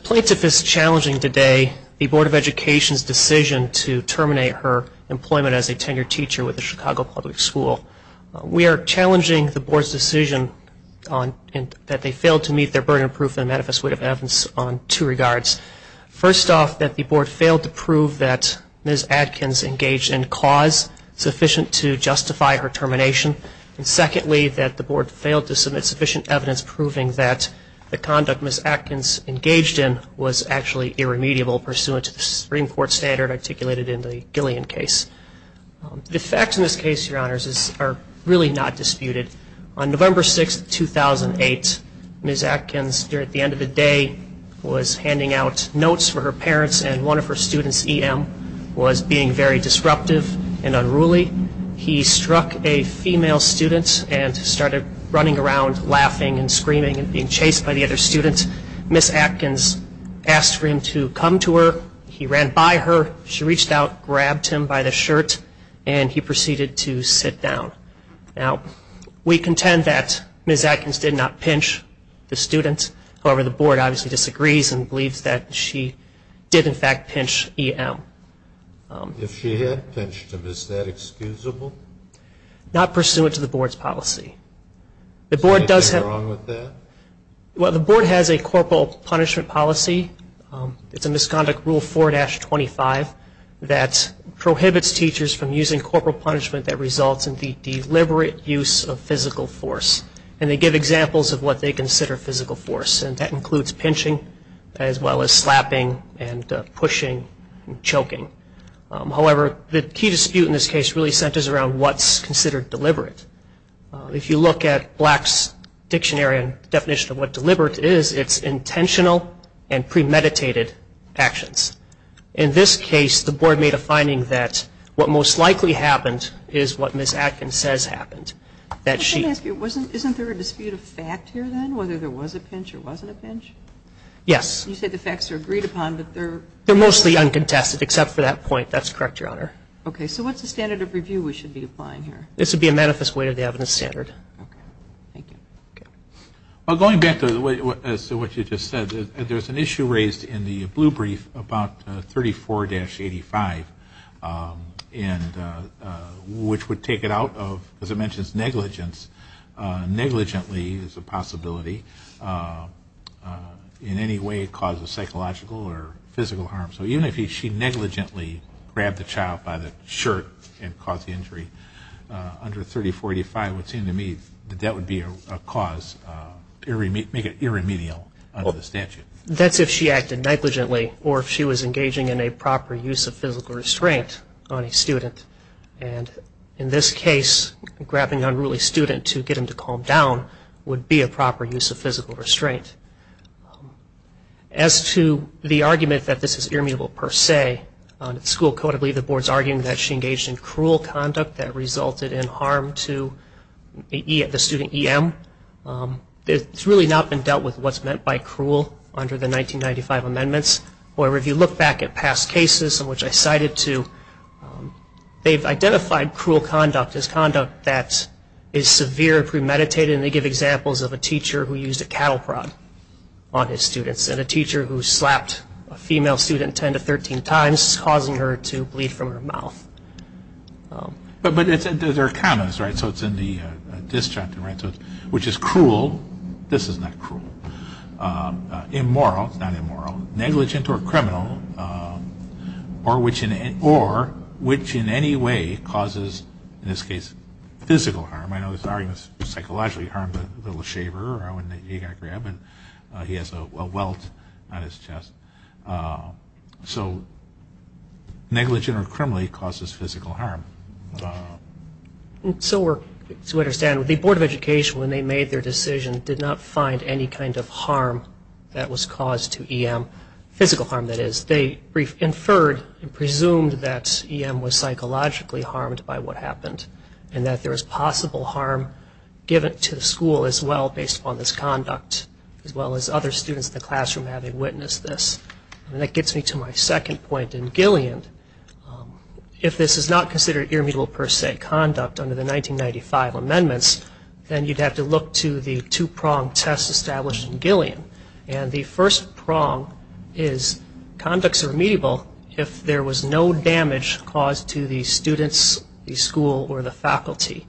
Plaintiff is challenging today the Board of Education's decision to terminate her employment as a tenured teacher with the Chicago Public School. We are challenging the Board's decision that they failed to meet their burden of proof and manifest weight of evidence on two regards. First off, that the Board failed to prove that Ms. Atkins engaged in cause sufficient to justify her termination. And secondly, that the Board failed to submit sufficient evidence proving that the conduct Ms. Atkins engaged in was actually irremediable pursuant to the Supreme Court standard articulated in the Gillian case. The facts in this case, your honors, are really not disputed. On November 6, 2008, Ms. Atkins, at the end of the day, was handing out notes for her parents, and one of her students, E.M., was being very disruptive and unruly. He struck a female student and started running around laughing and screaming and being chased by the other student. Ms. Atkins asked for him to come to her. He ran by her. She reached out, grabbed him by the shoulder, and ran away. He took off his shirt, and he proceeded to sit down. Now, we contend that Ms. Atkins did not pinch the student. However, the Board obviously disagrees and believes that she did, in fact, pinch E.M. If she had pinched him, is that excusable? Not pursuant to the Board's policy. Is there anything wrong with that? Well, the Board has a corporal punishment policy. It's a misconduct rule 4-25 that prohibits teachers from using corporal punishment that results in the deliberate use of physical force. And they give examples of what they consider physical force, and that includes pinching, as well as slapping and pushing and choking. However, the key dispute in this case really centers around what's considered deliberate. If you look at Black's dictionary and definition of what deliberate is, it's intentional and premeditated actions. In this case, the Board made a finding that what most likely happened is what Ms. Atkins says happened. Isn't there a dispute of fact here, then, whether there was a pinch or wasn't a pinch? Yes. You said the facts are agreed upon, but they're... They're mostly uncontested, except for that point. That's correct, Your Honor. Okay. So what's the standard of review we should be applying here? This would be a manifest way of the evidence standard. Okay. Thank you. Okay. Well, going back to what you just said, there's an issue raised in the blue brief about 34-85, and which would take it out of, as I mentioned, negligence. Negligently is a possibility. In any way, it causes psychological or physical harm. So even if she negligently grabbed the child by the shirt and caused the injury, under 34-85, it would seem to me that that would be a cause, make it irremedial under the statute. That's if she acted negligently or if she was engaging in a proper use of physical restraint on a student. And in this case, grabbing an unruly student to get him to calm down would be a proper use of physical restraint. As to the argument that this is irremediable per se, the school code I believe the board's arguing that she engaged in cruel conduct that resulted in harm to the student EM. It's really not been dealt with what's meant by cruel under the 1995 amendments. However, if you look back at past cases in which I cited to, they've identified cruel conduct as conduct that is severe, premeditated, and they give examples of a teacher who used a cattle prod on his students and a teacher who slapped a female student 10 to 13 times, causing her to bleed from her mouth. But there are commas, right? So it's in the disjunct, which is cruel. This is not cruel. Immoral, it's not immoral. Negligent or criminal, or which in any way causes, in this case, physical harm. I know this argument is psychologically harmful. A little shaver, you got to grab, and he has a welt on his chest. So negligent or criminally causes physical harm. So to understand, the Board of Education, when they made their decision, did not find any kind of harm that was caused to EM, physical harm that is. They inferred and presumed that EM was psychologically harmed by what happened and that there was possible harm given to the school as well based upon this conduct, as well as other students in the classroom having witnessed this. And that gets me to my second point in Gillian. If this is not considered irremediable per se conduct under the 1995 amendments, then you'd have to look to the two-prong test established in Gillian. And the first prong is conducts are remediable if there was no damage caused to the students, the school, or the faculty.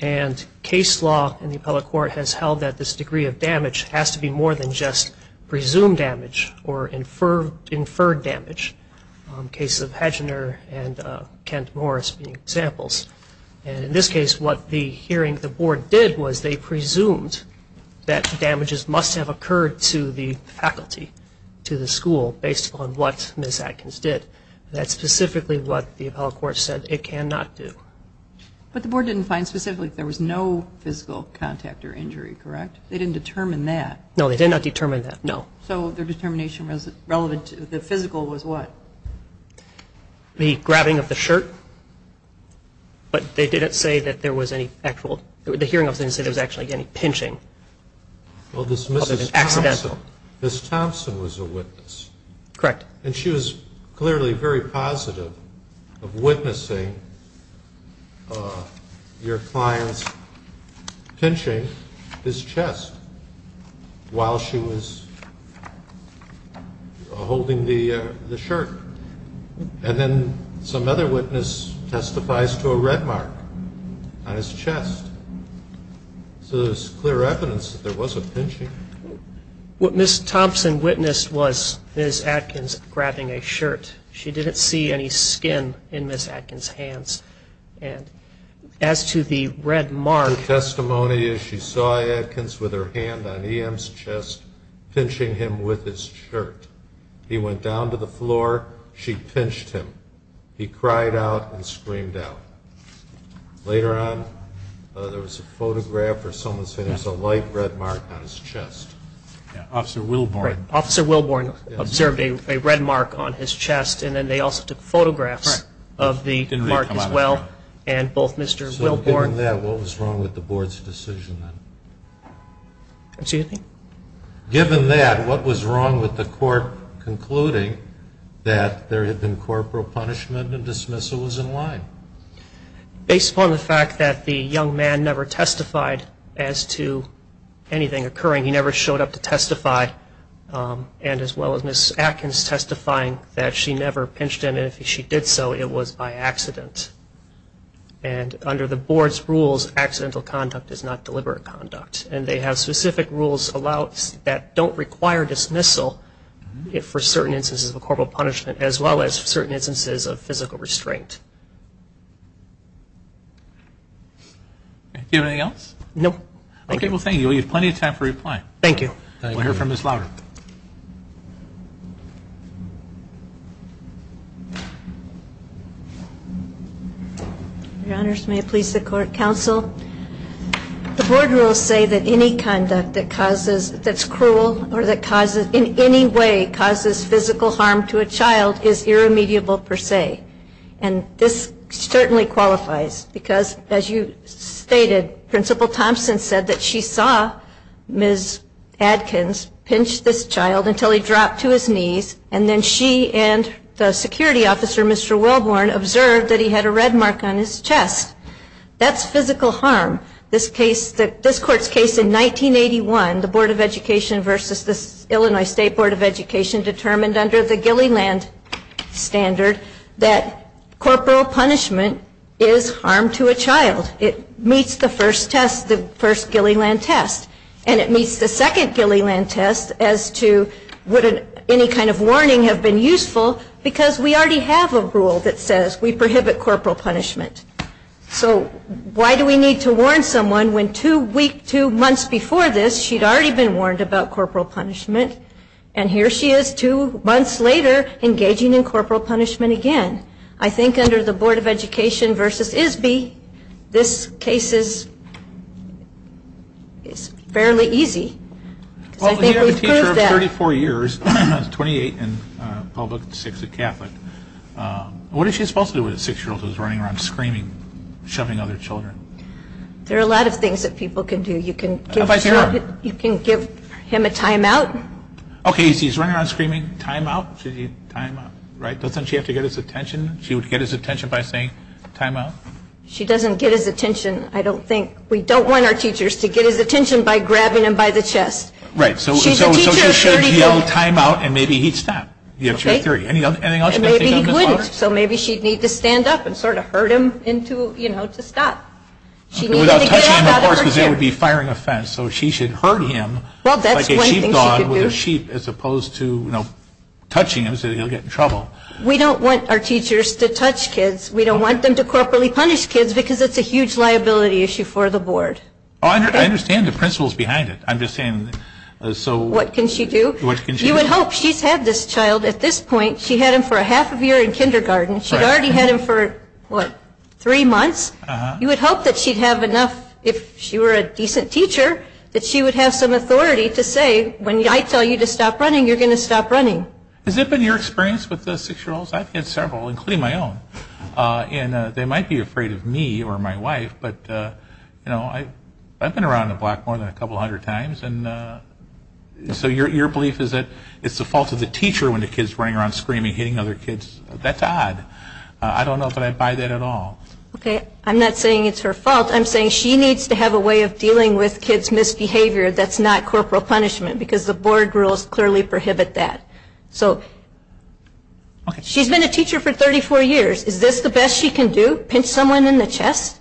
And case law in the public court has held that this degree of damage has to be more than just presumed damage or inferred damage. Cases of Hagener and Kent Morris being examples. And in this case, what the hearing the board did was they presumed that damages must have occurred to the faculty, to the school, based upon what Ms. Adkins did. That's specifically what the appellate court said it cannot do. But the board didn't find specifically if there was no physical contact or injury, correct? They didn't determine that. No, they did not determine that. No. So their determination was relevant to the physical was what? The grabbing of the shirt. But they didn't say that there was any actual, the hearing office didn't say there was actually any pinching. Well, this Mrs. Thompson, Ms. Thompson was a witness. Correct. And she was clearly very positive of witnessing your client's pinching his chest while she was holding the shirt. And then some other witness testifies to a red mark on his chest. So there's clear evidence that there was a pinching. What Ms. Thompson witnessed was Ms. Adkins grabbing a shirt. She didn't see any skin in Ms. Adkins' hands. And as to the red mark. The testimony is she saw Adkins with her hand on EM's chest pinching him with his shirt. He went down to the floor. She pinched him. He cried out and screamed out. Later on, there was a photograph of someone saying there's a light red mark on his chest. Officer Wilborn. Officer Wilborn observed a red mark on his chest. And then they also took photographs of the mark as well. And both Mr. Wilborn. So given that, what was wrong with the board's decision then? Excuse me? Given that, what was wrong with the court concluding that there had been corporal punishment and dismissal was in line? Based upon the fact that the young man never testified as to anything occurring. He never showed up to testify. And as well as Ms. Adkins testifying that she never pinched him. And if she did so, it was by accident. And under the board's rules, accidental conduct is not deliberate conduct. And they have specific rules that don't require dismissal for certain instances of corporal punishment, as well as certain instances of physical restraint. Do you have anything else? No. Okay, well, thank you. We have plenty of time for reply. Thank you. We'll hear from Ms. Louder. Your Honors, may it please the court, counsel. The board rules say that any conduct that causes, that's cruel, or that causes, in any way causes physical harm to a child is irremediable per se. And this certainly qualifies. Because as you stated, Principal Thompson said that she saw Ms. Adkins pinch this child until he dropped to his knees. And then she and the security officer, Mr. Wilborn, observed that he had a red mark on his chest. That's physical harm. This court's case in 1981, the Board of Education versus the Illinois State Board of Education, determined under the Gilliland standard that corporal punishment is harm to a child. It meets the first test, the first Gilliland test. And it meets the second Gilliland test as to would any kind of warning have been useful, because we already have a rule that says we prohibit corporal punishment. So why do we need to warn someone when two weeks, two months before this, she'd already been warned about corporal punishment. And here she is two months later engaging in corporal punishment again. I think under the Board of Education versus ISBE, this case is fairly easy. Because I think we've proved that. Well, you have a teacher of 34 years, 28 in public, six a Catholic. What is she supposed to do with a six-year-old who's running around screaming, shoving other children? There are a lot of things that people can do. You can give him a time-out. Okay, so he's running around screaming, time-out, time-out, right? Doesn't she have to get his attention? She would get his attention by saying time-out? She doesn't get his attention, I don't think. We don't want our teachers to get his attention by grabbing him by the chest. Right, so she should yell time-out and maybe he'd stop. That's your theory. Anything else you can think of, Ms. Waters? Maybe he wouldn't. So maybe she'd need to stand up and sort of herd him to stop. Without touching him, of course, because that would be a firing offense. So she should herd him like a sheepdog with a sheep as opposed to touching him so that he'll get in trouble. We don't want our teachers to touch kids. We don't want them to corporally punish kids because it's a huge liability issue for the board. I understand the principles behind it. I'm just saying. What can she do? You would hope she's had this child at this point. She had him for a half of year in kindergarten. She'd already had him for, what, three months? You would hope that she'd have enough, if she were a decent teacher, that she would have some authority to say when I tell you to stop running, you're going to stop running. Has it been your experience with the six-year-olds? I've had several, including my own. And they might be afraid of me or my wife, but, you know, I've been around the block more than a couple hundred times. And so your belief is that it's the fault of the teacher when the kid's running around screaming, hitting other kids? That's odd. I don't know if I buy that at all. Okay. I'm not saying it's her fault. I'm saying she needs to have a way of dealing with kids' misbehavior that's not corporal punishment because the board rules clearly prohibit that. So she's been a teacher for 34 years. Is this the best she can do, pinch someone in the chest?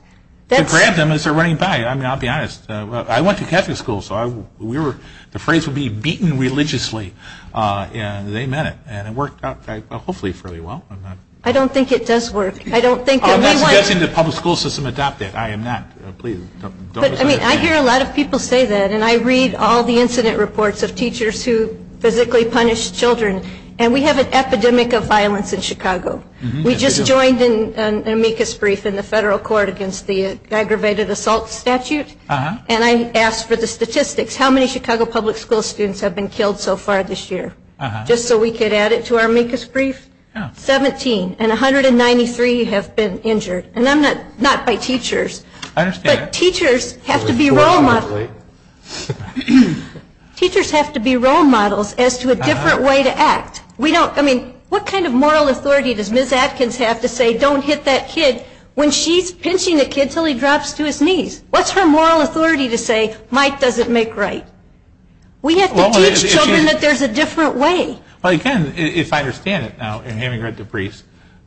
To grab them as they're running by. I mean, I'll be honest. I went to Catholic school, so the phrase would be beaten religiously. And they meant it. And it worked out hopefully fairly well. I don't think it does work. I don't think that we want to. I'm not suggesting the public school system adopt that. I am not. Please, don't. I hear a lot of people say that. And I read all the incident reports of teachers who physically punish children. And we have an epidemic of violence in Chicago. We just joined an amicus brief in the federal court against the aggravated assault statute. And I asked for the statistics. How many Chicago public school students have been killed so far this year? Just so we could add it to our amicus brief. 17. And 193 have been injured. And I'm not by teachers. I understand. But teachers have to be role models. Teachers have to be role models as to a different way to act. I mean, what kind of moral authority does Ms. Atkins have to say don't hit that kid when she's pinching the kid until he drops to his knees? What's her moral authority to say Mike doesn't make right? We have to teach children that there's a different way. Well, again, if I understand it now in having read the briefs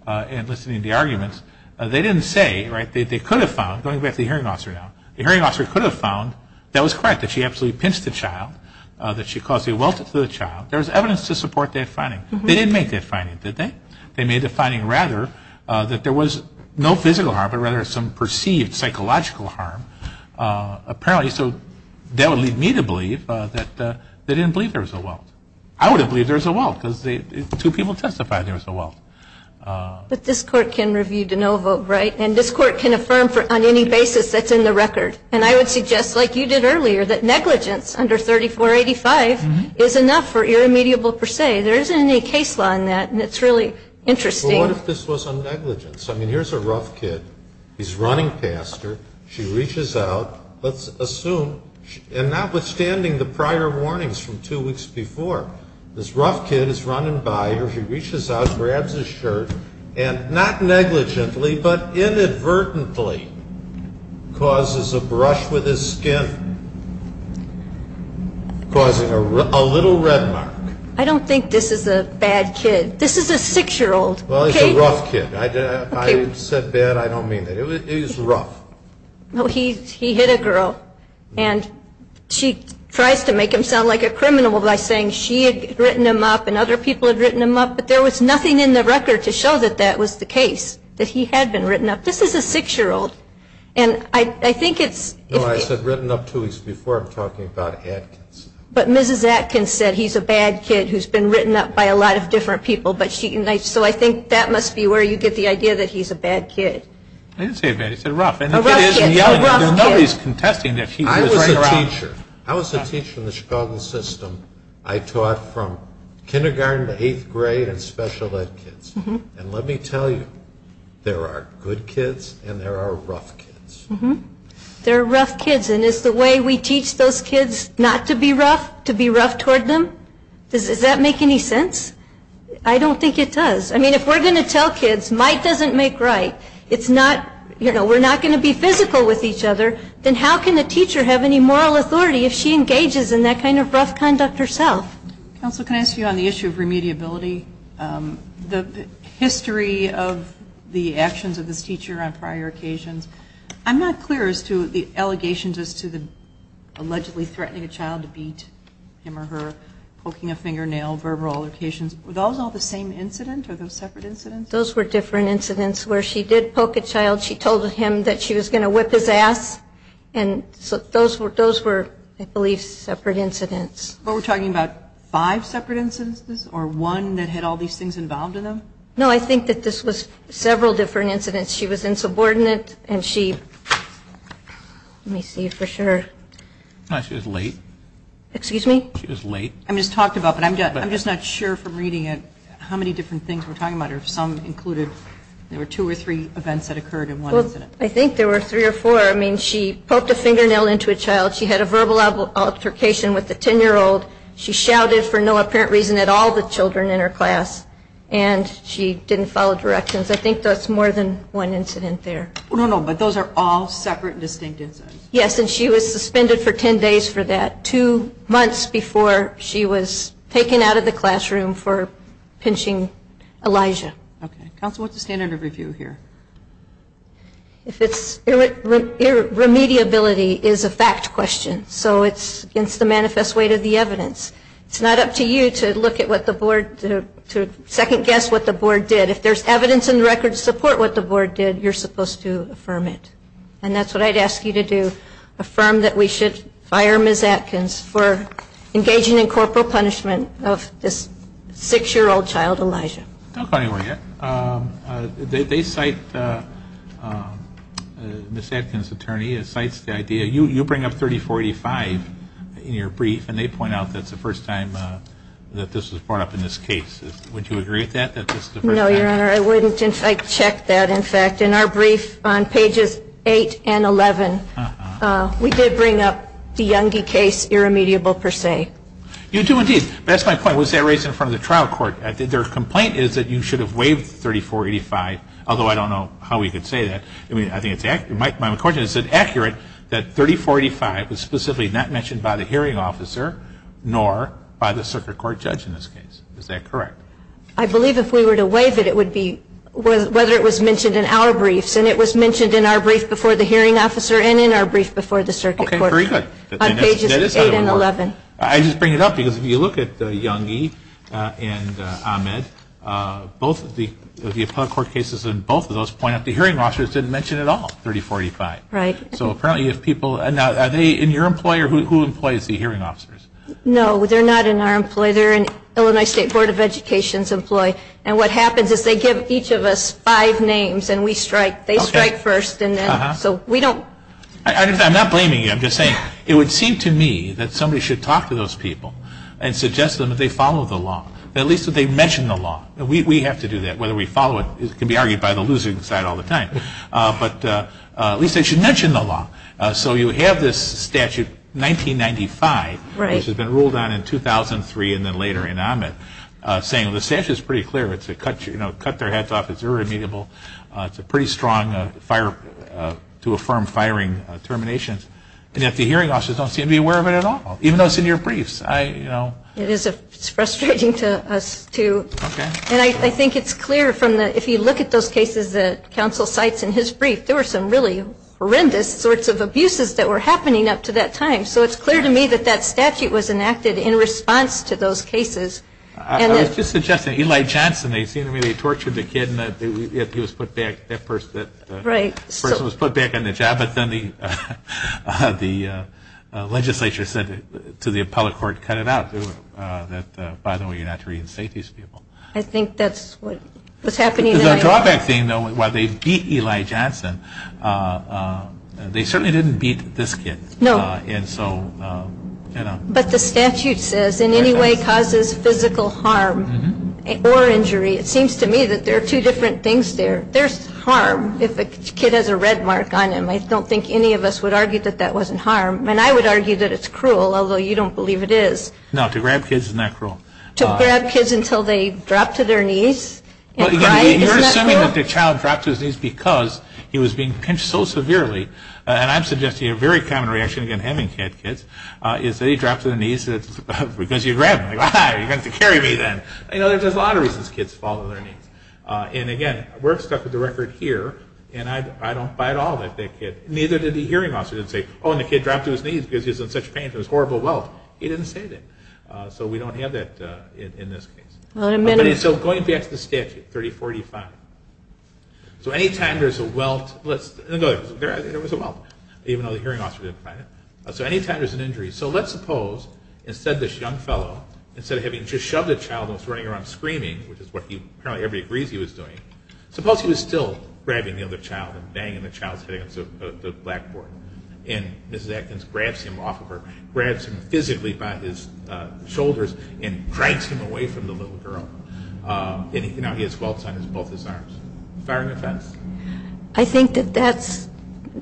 and listening to the arguments, they didn't say, right, that they could have found, going back to the hearing officer now, the hearing officer could have found that was correct, that she absolutely pinched the child, that she caused a welter to the child. There was evidence to support that finding. They didn't make that finding, did they? They made the finding, rather, that there was no physical harm but rather some perceived psychological harm apparently. So that would lead me to believe that they didn't believe there was a welter. I would have believed there was a welter because two people testified there was a welter. But this Court can review de novo, right? And this Court can affirm on any basis that's in the record. And I would suggest, like you did earlier, that negligence under 3485 is enough for irremediable per se. There isn't any case law in that, and it's really interesting. Well, what if this was a negligence? I mean, here's a rough kid. He's running past her. She reaches out. Let's assume, and notwithstanding the prior warnings from two weeks before, this rough kid is running by her. He reaches out, grabs his shirt, and not negligently but inadvertently causes a brush with his skin, causing a little red mark. I don't think this is a bad kid. This is a 6-year-old. Well, he's a rough kid. If I said bad, I don't mean that. He's rough. No, he hit a girl. And she tries to make him sound like a criminal by saying she had written him up and other people had written him up, but there was nothing in the record to show that that was the case, that he had been written up. This is a 6-year-old, and I think it's – No, I said written up two weeks before. I'm talking about Atkins. But Mrs. Atkins said he's a bad kid who's been written up by a lot of different people. So I think that must be where you get the idea that he's a bad kid. I didn't say bad. I said rough. A rough kid. A rough kid. Nobody's contesting that he was a rough kid. I was a teacher. I taught from kindergarten to eighth grade in special ed kids. And let me tell you, there are good kids and there are rough kids. There are rough kids. And is the way we teach those kids not to be rough to be rough toward them? Does that make any sense? I don't think it does. I mean, if we're going to tell kids might doesn't make right, we're not going to be physical with each other, then how can a teacher have any moral authority if she engages in that kind of rough conduct herself? Counsel, can I ask you on the issue of remediability? The history of the actions of this teacher on prior occasions, I'm not clear as to the allegations as to the allegedly threatening a child to beat him or her, poking a fingernail, verbal altercations. Were those all the same incident? Are those separate incidents? Those were different incidents where she did poke a child. She told him that she was going to whip his ass. And so those were, I believe, separate incidents. But we're talking about five separate incidents or one that had all these things involved in them? No, I think that this was several different incidents. She was insubordinate and she, let me see for sure. She was late. Excuse me? She was late. I'm just not sure from reading it how many different things we're talking about. Some included there were two or three events that occurred in one incident. I think there were three or four. I mean, she poked a fingernail into a child. She had a verbal altercation with a 10-year-old. She shouted for no apparent reason at all the children in her class. And she didn't follow directions. I think that's more than one incident there. No, no, but those are all separate and distinct incidents. Yes, and she was suspended for 10 days for that, before she was taken out of the classroom for pinching Elijah. Okay. Counsel, what's the standard of review here? If it's irremediability is a fact question. So it's against the manifest weight of the evidence. It's not up to you to look at what the board, to second-guess what the board did. If there's evidence in the record to support what the board did, you're supposed to affirm it. And that's what I'd ask you to do. Affirm that we should fire Ms. Atkins for engaging in corporal punishment of this 6-year-old child, Elijah. Don't go anywhere yet. They cite Ms. Atkins' attorney. It cites the idea. You bring up 30485 in your brief, and they point out that's the first time that this was brought up in this case. Would you agree with that, that this is the first time? No, Your Honor, I wouldn't. I checked that, in fact. In our brief, on pages 8 and 11, we did bring up the Youngie case, irremediable per se. You do, indeed. But that's my point. Was that raised in front of the trial court? Their complaint is that you should have waived 30485, although I don't know how we could say that. I think it's accurate. My question is, is it accurate that 30485 was specifically not mentioned by the hearing officer, nor by the circuit court judge in this case? Is that correct? I believe if we were to waive it, it would be whether it was mentioned in our briefs. And it was mentioned in our brief before the hearing officer and in our brief before the circuit court judge on pages 8 and 11. I just bring it up because if you look at the Youngie and Ahmed, both of the appellate court cases in both of those point out the hearing officers didn't mention it at all, 30485. Right. So apparently if people – are they in your employee, or who employs the hearing officers? No, they're not in our employee. They're an Illinois State Board of Education's employee. And what happens is they give each of us five names, and we strike. They strike first, and then – so we don't – I'm not blaming you. I'm just saying it would seem to me that somebody should talk to those people and suggest to them that they follow the law, that at least that they mention the law. We have to do that, whether we follow it. It can be argued by the losing side all the time. But at least they should mention the law. So you have this statute, 1995, which has been ruled on in 2003 and then later in Ahmed, saying the statute is pretty clear. It's a cut – you know, cut their heads off. It's irremediable. It's a pretty strong fire – to affirm firing terminations. And yet the hearing officers don't seem to be aware of it at all, even though it's in your briefs. I, you know – It is a – it's frustrating to us, too. Okay. And I think it's clear from the – if you look at those cases that counsel cites in his brief, there were some really horrendous sorts of abuses that were happening up to that time. So it's clear to me that that statute was enacted in response to those cases. I was just suggesting Eli Johnson. They seem to me they tortured the kid and he was put back – that person was put back on the job. But then the legislature said to the appellate court, cut it out. That, by the way, you're not to reinstate these people. I think that's what was happening. The drawback thing, though, while they beat Eli Johnson, they certainly didn't beat this kid. No. And so – But the statute says in any way causes physical harm or injury. It seems to me that there are two different things there. There's harm if a kid has a red mark on him. I don't think any of us would argue that that wasn't harm. And I would argue that it's cruel, although you don't believe it is. No, to grab kids is not cruel. To grab kids until they drop to their knees and cry, isn't that cruel? You're assuming that the child dropped to his knees because he was being pinched so severely. And I'm suggesting a very common reaction, again, having had kids, is that he dropped to the knees because you grabbed him. Ah, you're going to have to carry me then. You know, there's a lot of reasons kids fall to their knees. And, again, we're stuck with the record here, and I don't buy it at all that that kid – neither did the hearing officer didn't say, oh, and the kid dropped to his knees because he was in such pain from his horrible welt. He didn't say that. So we don't have that in this case. So going back to the statute, 3045, so any time there's a welt – let's – there was a welt, even though the hearing officer didn't find it. So any time there's an injury – so let's suppose instead this young fellow, instead of having just shoved a child and was running around screaming, which is what apparently everybody agrees he was doing, suppose he was still grabbing the other child and banging the child's head against the blackboard. And Mrs. Atkins grabs him off of her – grabs him physically by his shoulders and drags him away from the little girl. And, you know, he has welts on both his arms. Fire and offense. I think that that's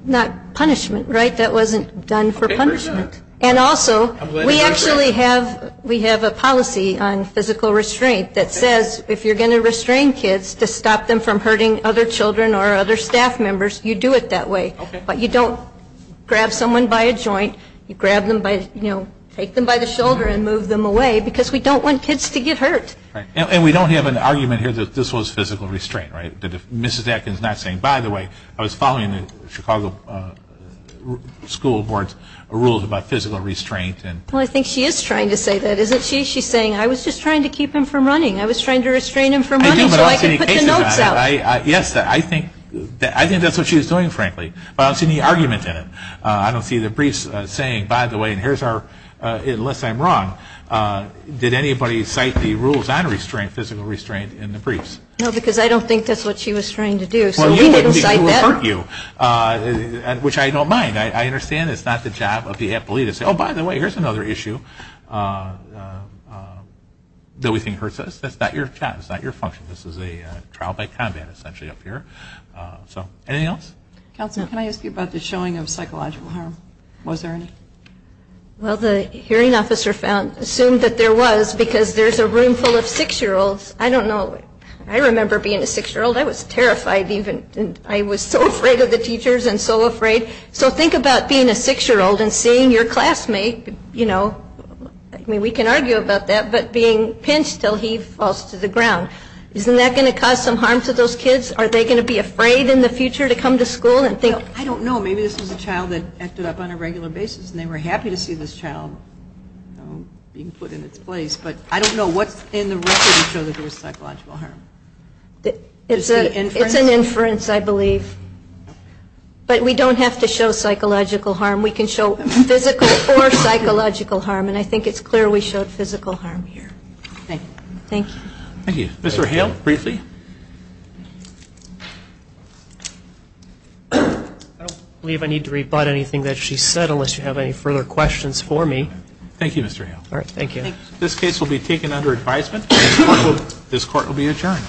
not punishment, right? That wasn't done for punishment. And also, we actually have – we have a policy on physical restraint that says if you're going to restrain kids to stop them from hurting other children or other staff members, you do it that way. But you don't grab someone by a joint. You grab them by – you know, take them by the shoulder and move them away because we don't want kids to get hurt. And we don't have an argument here that this was physical restraint, right? Mrs. Atkins not saying, by the way, I was following the Chicago school board's rules about physical restraint. Well, I think she is trying to say that, isn't she? She's saying, I was just trying to keep him from running. I was trying to restrain him from running so I could put the notes out. Yes, I think that's what she was doing, frankly. But I don't see any argument in it. I don't see the briefs saying, by the way, and here's our – unless I'm wrong, did anybody cite the rules on restraint, physical restraint, in the briefs? No, because I don't think that's what she was trying to do. So we didn't cite that. Which I don't mind. I understand it's not the job of the appellee to say, oh, by the way, here's another issue that we think hurts us. That's not your job. That's not your function. This is a trial by combat, essentially, up here. So anything else? Counselor, can I ask you about the showing of psychological harm? Was there any? Well, the hearing officer assumed that there was because there's a room full of six-year-olds. I don't know. I remember being a six-year-old. I was terrified even. I was so afraid of the teachers and so afraid. So think about being a six-year-old and seeing your classmate, you know, I mean, we can argue about that, but being pinched until he falls to the ground, isn't that going to cause some harm to those kids? Are they going to be afraid in the future to come to school and think? I don't know. Maybe this was a child that acted up on a regular basis and they were happy to see this child being put in its place. But I don't know what's in the record to show that there was psychological harm. It's an inference, I believe. But we don't have to show psychological harm. We can show physical or psychological harm. And I think it's clear we showed physical harm here. Thank you. Thank you. Mr. Hale, briefly. I don't believe I need to rebut anything that she said unless you have any further questions for me. Thank you, Mr. Hale. All right, thank you. This case will be taken under advisement. This Court will be adjourned.